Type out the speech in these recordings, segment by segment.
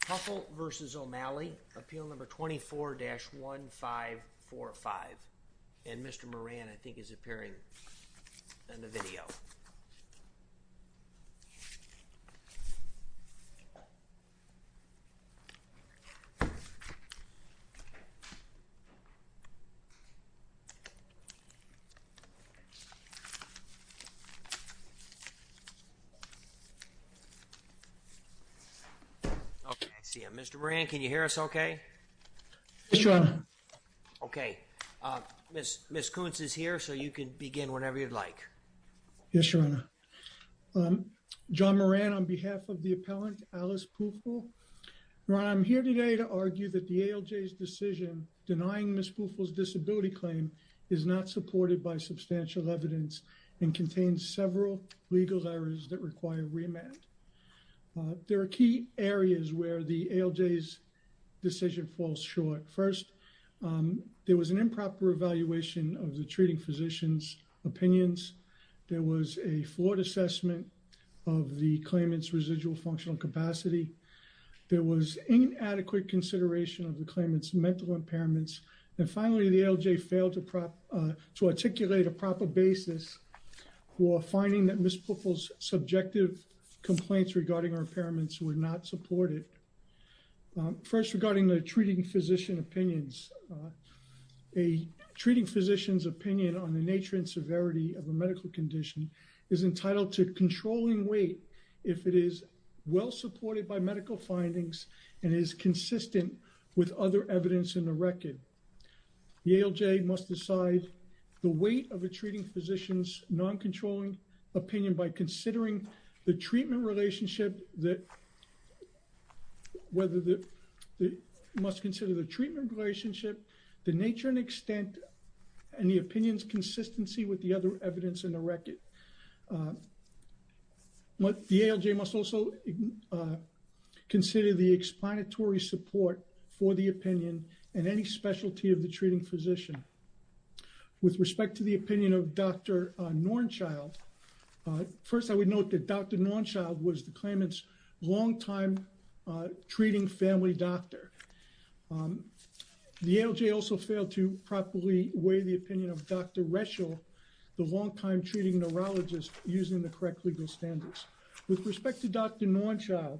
Pufahl v. O'Malley appeal number 24-1545 and Mr. Moran I think is appearing in the video Mr. Moran can you hear us okay? Yes, your honor. Okay, Miss Koontz is here so you can begin whenever you'd like. Yes, your honor. John Moran on behalf of the appellant Alice Pufahl. Your honor, I'm here today to argue that the ALJ's decision denying Miss Pufahl's disability claim is not supported by substantial evidence and contains several legal errors that require remand. There are key areas where the ALJ's decision falls short. First, there was an improper evaluation of the treating physician's opinions. There was a flawed assessment of the claimant's residual functional capacity. There was inadequate consideration of the claimant's mental impairments and finally the ALJ failed to articulate a basis for finding that Miss Pufahl's subjective complaints regarding her impairments were not supported. First, regarding the treating physician opinions. A treating physician's opinion on the nature and severity of a medical condition is entitled to controlling weight if it is well supported by medical findings and is consistent with other evidence in the record. The ALJ must decide the weight of a treating physician's non-controlling opinion by considering the treatment relationship that whether the must consider the treatment relationship the nature and extent and the opinions consistency with the other evidence in the record. What the ALJ must also consider the explanatory support for the opinion and any specialty of the treating physician. With respect to the opinion of Dr. Norenschild, first I would note that Dr. Norenschild was the claimant's longtime treating family doctor. The ALJ also failed to properly weigh the opinion of Dr. Reschel, the longtime treating neurologist using the correct legal standards. With respect to Dr. Norenschild,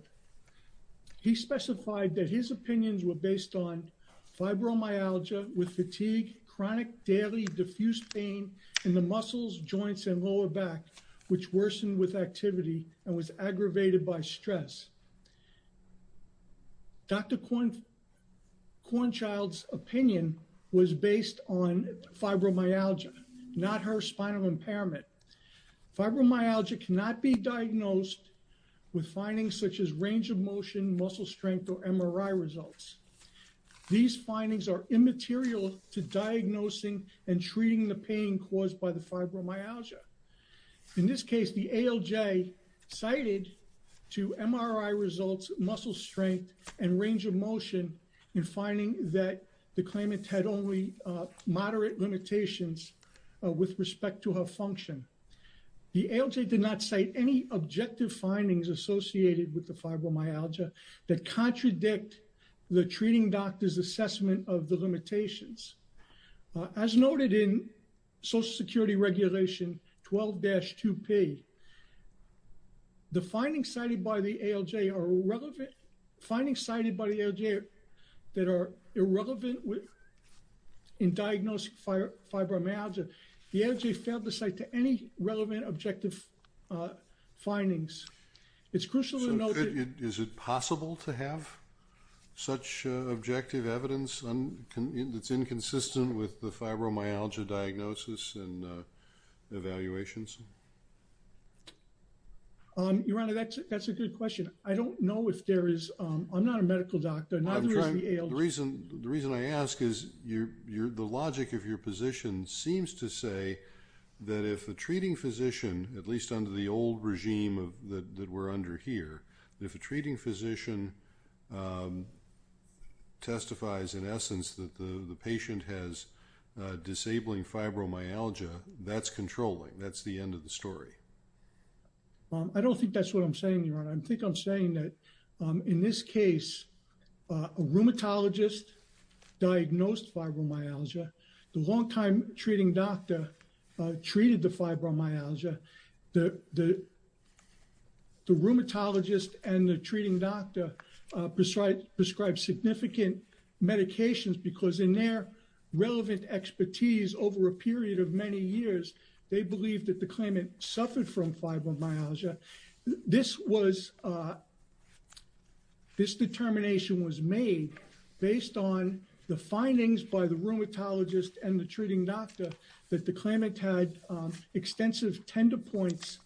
he specified that his opinions were based on fibromyalgia with fatigue, chronic daily diffuse pain in the muscles, joints, and lower back which worsened with activity and was aggravated by stress. Dr. Cornchild's opinion was based on fibromyalgia, not her spinal impairment. Fibromyalgia cannot be diagnosed with findings such as range of motion, muscle strength, or MRI results. These findings are immaterial to diagnosing and treating the pain caused by the fibromyalgia. In this case, the ALJ cited two MRI results, muscle strength, and range of motion in finding that the claimant had only moderate limitations with respect to her function. The ALJ did not cite any objective findings associated with the fibromyalgia that contradict the treating doctor's assessment of the limitations. As noted in Social Security Regulation 12-2P, the findings cited by the ALJ are relevant, findings cited by the ALJ that are irrelevant in diagnosing fibromyalgia. The ALJ failed to cite any relevant objective findings. It's crucial to note that... Is it possible to have such objective evidence that's inconsistent with the fibromyalgia diagnosis and evaluations? Your Honor, that's a good question. I don't know if there is... I'm not a The reason I ask is the logic of your position seems to say that if a treating physician, at least under the old regime that we're under here, if a treating physician testifies in essence that the patient has disabling fibromyalgia, that's controlling. That's the end of the story. I don't think that's what I'm saying, Your Honor. I think I'm saying that in this case, a rheumatologist diagnosed fibromyalgia. The long-time treating doctor treated the fibromyalgia. The rheumatologist and the treating doctor prescribed significant medications because in their relevant expertise over a period of many years, they believed that the claimant suffered from fibromyalgia. This was... This determination was made based on the findings by the rheumatologist and the treating doctor that the claimant had extensive tender points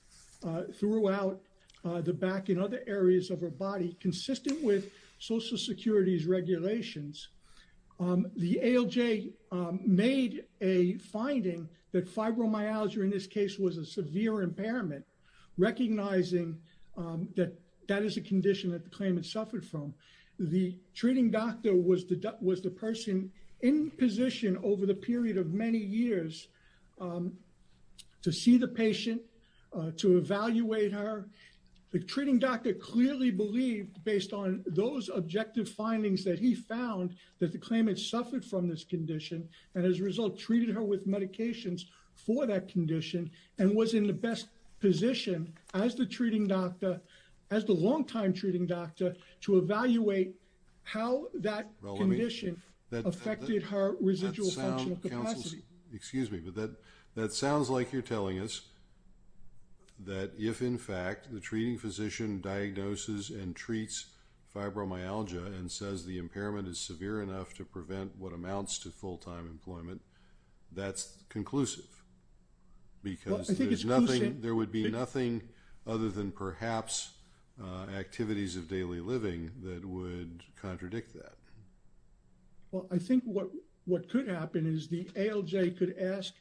throughout the back and other areas of her body consistent with Social Security's regulations. The ALJ made a finding that fibromyalgia in this case was a severe impairment, recognizing that that is a condition that the claimant suffered from. The treating doctor was the person in position over the period of many years to see the patient, to evaluate her. The treating doctor clearly believed, based on those objective findings that he found, that the claimant suffered from this condition and as a for that condition and was in the best position as the treating doctor, as the long-time treating doctor, to evaluate how that condition affected her residual functional capacity. Excuse me, but that sounds like you're telling us that if in fact the treating physician diagnoses and treats fibromyalgia and says the impairment is severe enough to prevent what amounts to full-time employment, that's conclusive because there would be nothing other than perhaps activities of daily living that would contradict that. Well, I think what could happen is the ALJ could ask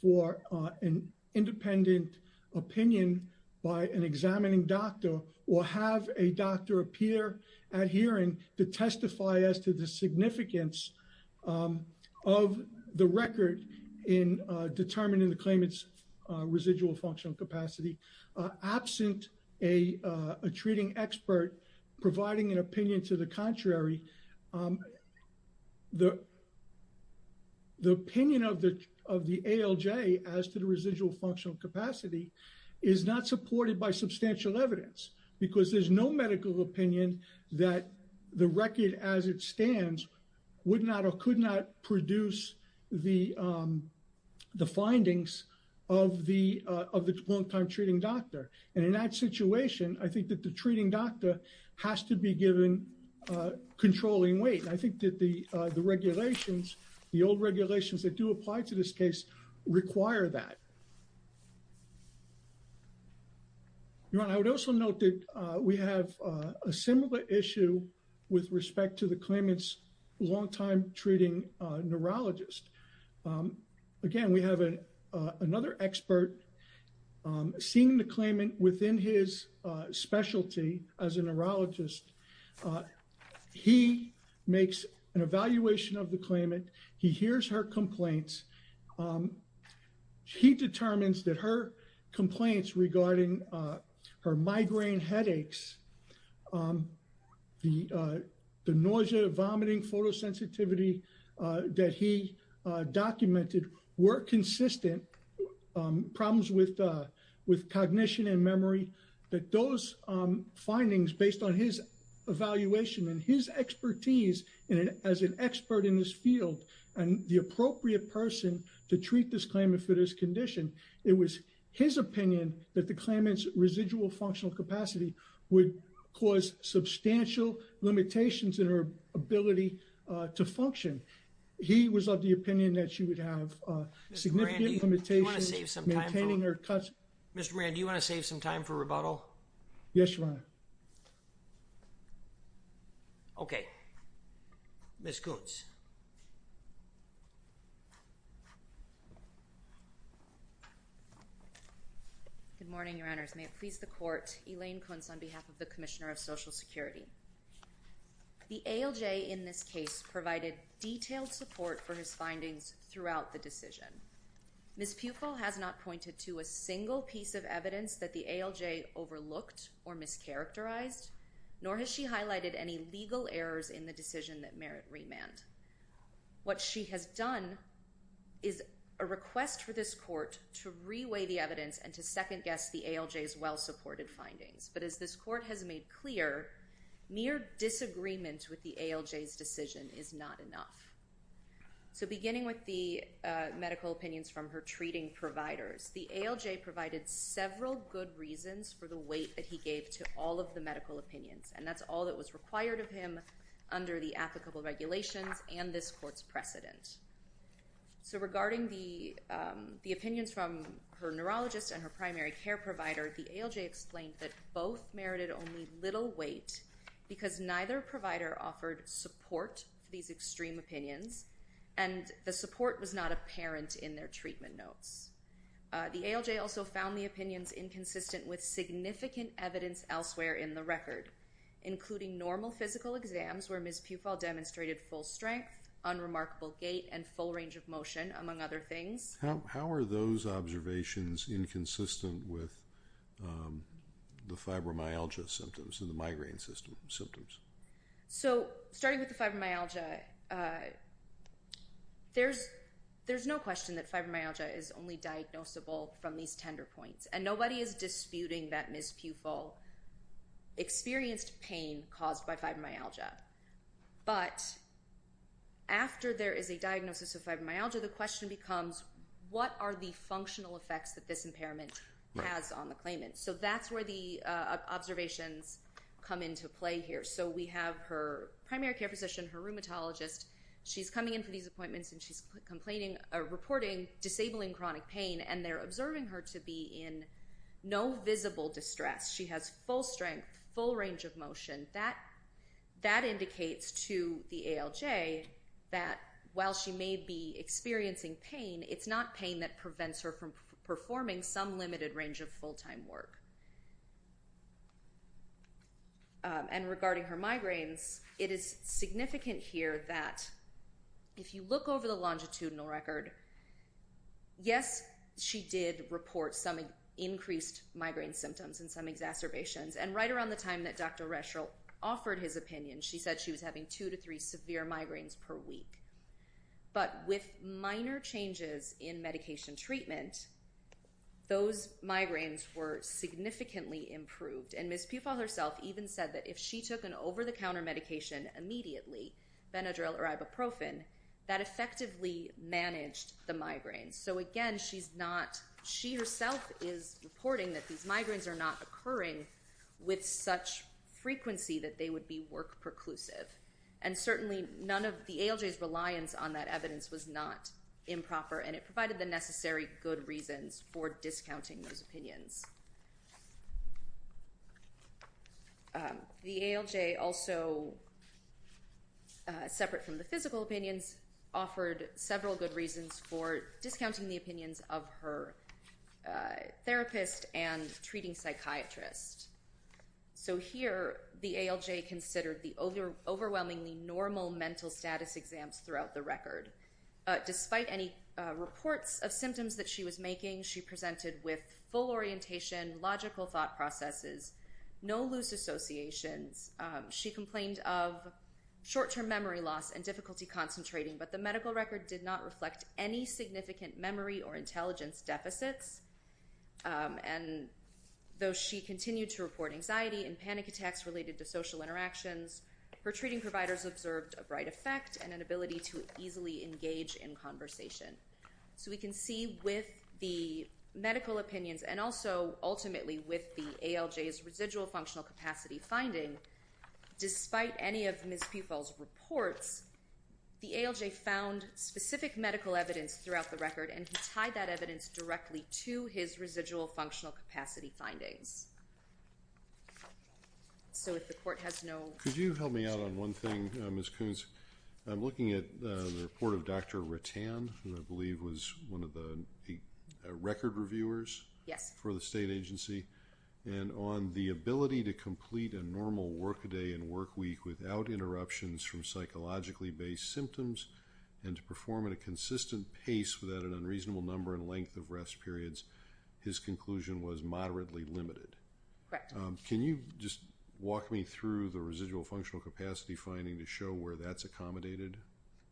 for an independent opinion by an examining doctor or have a doctor appear at hearing to testify as to the significance of the record in determining the claimant's residual functional capacity. Absent a treating expert providing an opinion to the contrary, the opinion of the ALJ as to the residual functional capacity is not supported by substantial evidence because there's no medical opinion that the record as it stands would not or could not produce the findings of the of the long-time treating doctor and in that situation I think that the treating doctor has to be given controlling weight. I think that the regulations, the old regulations that do apply to this case require that. I would also note that we have a similar issue with respect to the claimants long-time treating neurologist. Again, we have a another expert seeing the claimant within his specialty as a neurologist. He makes an evaluation of the claimant. He hears her complaints. He determines that her complaints regarding her migraine headaches, the nausea, vomiting, photosensitivity that he documented were consistent. Problems with cognition and memory that those findings based on his evaluation and his expertise and as an expert in this field and the appropriate person to treat this claimant for this condition, it was his opinion that the claimant's residual functional capacity would cause substantial limitations in her ability to function. He was of the opinion that she would have significant limitations. Mr. Moran, do you want to save some time for rebuttal? Yes, Your Honor. Okay, Ms. Kuntz. Good morning, Your Honors. May it please the Court, Elaine Kuntz on behalf of the Commissioner of Social Security. The ALJ in this case provided detailed support for his findings throughout the decision. Ms. Pupil has not pointed to a single piece of evidence that the ALJ overlooked or mischaracterized, nor has she highlighted any legal errors in the decision that merit remand. What she has done is a request for this court to reweigh the evidence and to second guess the ALJ's well-supported findings, but as this court has made clear, mere disagreement with the ALJ's decision is not enough. So beginning with the medical opinions from her treating providers, the ALJ provided several good reasons for the weight that he gave to all of the medical opinions, and that's all that was required of him under the applicable regulations and this court's precedent. So regarding the opinions from her neurologist and her primary care provider, the ALJ explained that both merited only little weight because neither provider offered support for these extreme opinions, and the support was not apparent in their treatment notes. The ALJ also found the opinions inconsistent with significant evidence elsewhere in the record, including normal physical exams where Ms. Pupil demonstrated full strength, unremarkable gait, and full range of motion, among other things. How are those observations inconsistent with the fibromyalgia symptoms and the There's no question that fibromyalgia is only diagnosable from these tender points, and nobody is disputing that Ms. Pupil experienced pain caused by fibromyalgia, but after there is a diagnosis of fibromyalgia, the question becomes, what are the functional effects that this impairment has on the claimant? So that's where the observations come into play here. So we have her primary care physician, her rheumatologist, she's coming in for these appointments and she's reporting disabling chronic pain, and they're observing her to be in no visible distress. She has full strength, full range of motion. That indicates to the ALJ that while she may be experiencing pain, it's not pain that prevents her from performing some limited range of time work. And regarding her migraines, it is significant here that if you look over the longitudinal record, yes, she did report some increased migraine symptoms and some exacerbations, and right around the time that Dr. Reschel offered his opinion, she said she was having two to three severe migraines per week. But with minor changes in medication treatment, those migraines were significantly improved. And Ms. Pufill herself even said that if she took an over-the-counter medication immediately, Benadryl or Ibuprofen, that effectively managed the migraines. So again, she's not, she herself is reporting that these migraines are not occurring with such frequency that they would be work-perclusive. And certainly none of the ALJ's reliance on that evidence was not improper, and it provided the necessary good reasons for discounting those opinions. The ALJ also, separate from the physical opinions, offered several good reasons for discounting the opinions of her therapist and treating psychiatrist. So here, the ALJ considered the overwhelmingly normal mental status exams throughout the record. Despite any reports of symptoms that she was making, she presented with full orientation, logical thought processes, no loose associations. She complained of short-term memory loss and difficulty concentrating, but the medical record did not reflect any significant memory or intelligence deficits. And though she continued to report anxiety and panic attacks related to social interactions, her treating providers observed a bright effect and an ability to easily engage in conversation. So we can see with the medical opinions and also ultimately with the ALJ's residual functional capacity finding, despite any of Ms. Pufill's reports, the ALJ found specific medical evidence throughout the record, and he tied that evidence directly to his residual functional capacity findings. So if the court has no... Could you help me out on one thing, Ms. Koons? I'm looking at the report of Dr. Rattan, who I believe was one of the record reviewers for the state agency, and on the ability to complete a normal workday and workweek without interruptions from psychologically-based symptoms and to perform at a consistent pace without an unreasonable number and length of rest periods, his conclusion was moderately limited. Can you just walk me through the residual functional capacity finding to show where that's accommodated?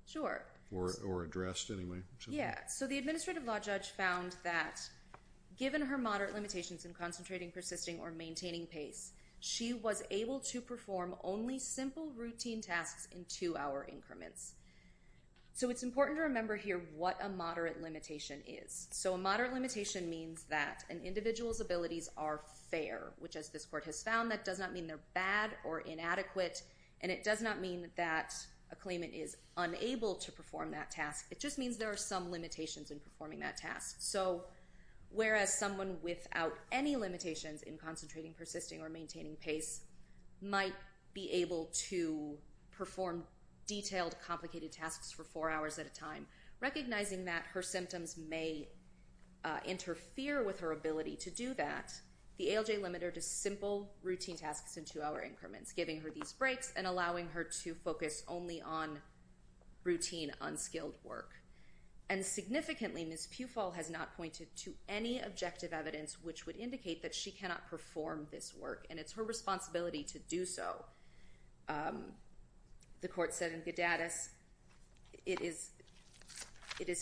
Sure. Or addressed, anyway. Yeah, so the administrative law judge found that given her moderate limitations in concentrating, persisting, or maintaining pace, she was able to perform only simple routine tasks in two-hour increments. So it's important to remember here what a moderate limitation is. So a moderate limitation means that an individual's abilities are fair, which as this court has found, that does not mean they're bad or inadequate, and it does not mean that a claimant is unable to perform that task. It just means there are some limitations in performing that task. So whereas someone without any limitations in concentrating, persisting, or maintaining pace might be able to perform detailed, complicated tasks for four hours at a time, recognizing that her symptoms may interfere with her ability to do that, the ALJ limited her to simple routine tasks in two-hour increments, giving her these breaks and allowing her to focus only on routine, unskilled work. And significantly, Ms. Pufall has not pointed to any objective evidence which would indicate that she cannot perform this work, and it's her responsibility to do so. The court said in Gadadis, it is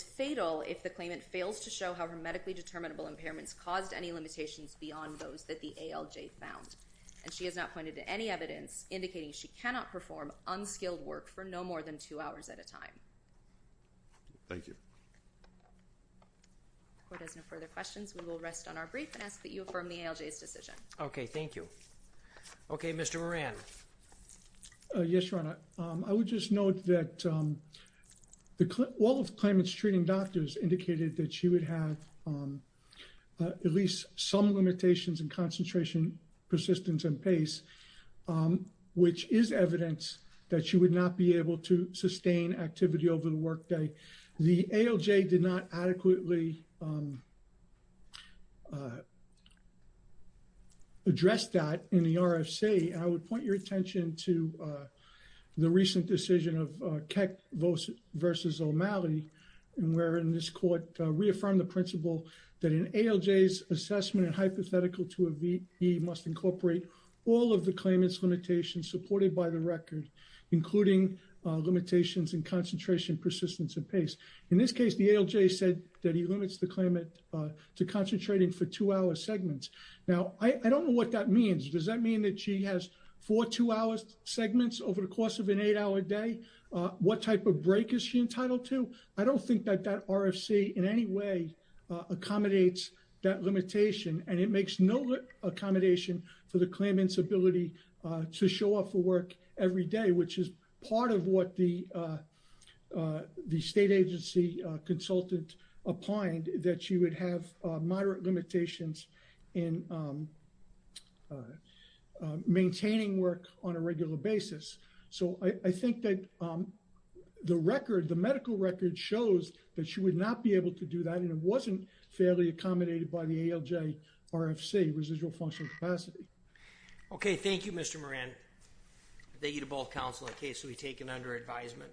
fatal if the claimant fails to show how her medically determinable impairments caused any limitations beyond those that the ALJ found. And she has not pointed to any evidence indicating she cannot perform unskilled work for no more than two on our brief and ask that you affirm the ALJ's decision. Okay, thank you. Okay, Mr. Moran. Yes, Your Honor. I would just note that all of the claimant's treating doctors indicated that she would have at least some limitations in concentration, persistence, and pace, which is evidence that she would not be able to sustain activity over the work day. The ALJ did not adequately address that in the RFC, and I would point your attention to the recent decision of Keck versus O'Malley, wherein this court reaffirmed the principle that an ALJ's assessment and hypothetical to a VE must incorporate all of the claimant's limitations supported by the record, including limitations in concentration, persistence, and pace. In this case, the ALJ said that he limits the claimant to concentrating for two-hour segments. Now, I don't know what that means. Does that mean that she has four two-hour segments over the course of an eight-hour day? What type of break is she entitled to? I don't think that that RFC in any way accommodates that limitation, and it makes no accommodation for the claimant's ability to show up for work every day, which is part of what the state agency consultant opined, that she would have moderate limitations in maintaining work on a regular basis. So I think that the record, the medical record, shows that she would not be able to do that, and it wasn't fairly accommodated by the ALJ RFC, residual functional capacity. Okay, thank you Mr. Moran. Thank you to both counsel in the case that we've taken under advisement.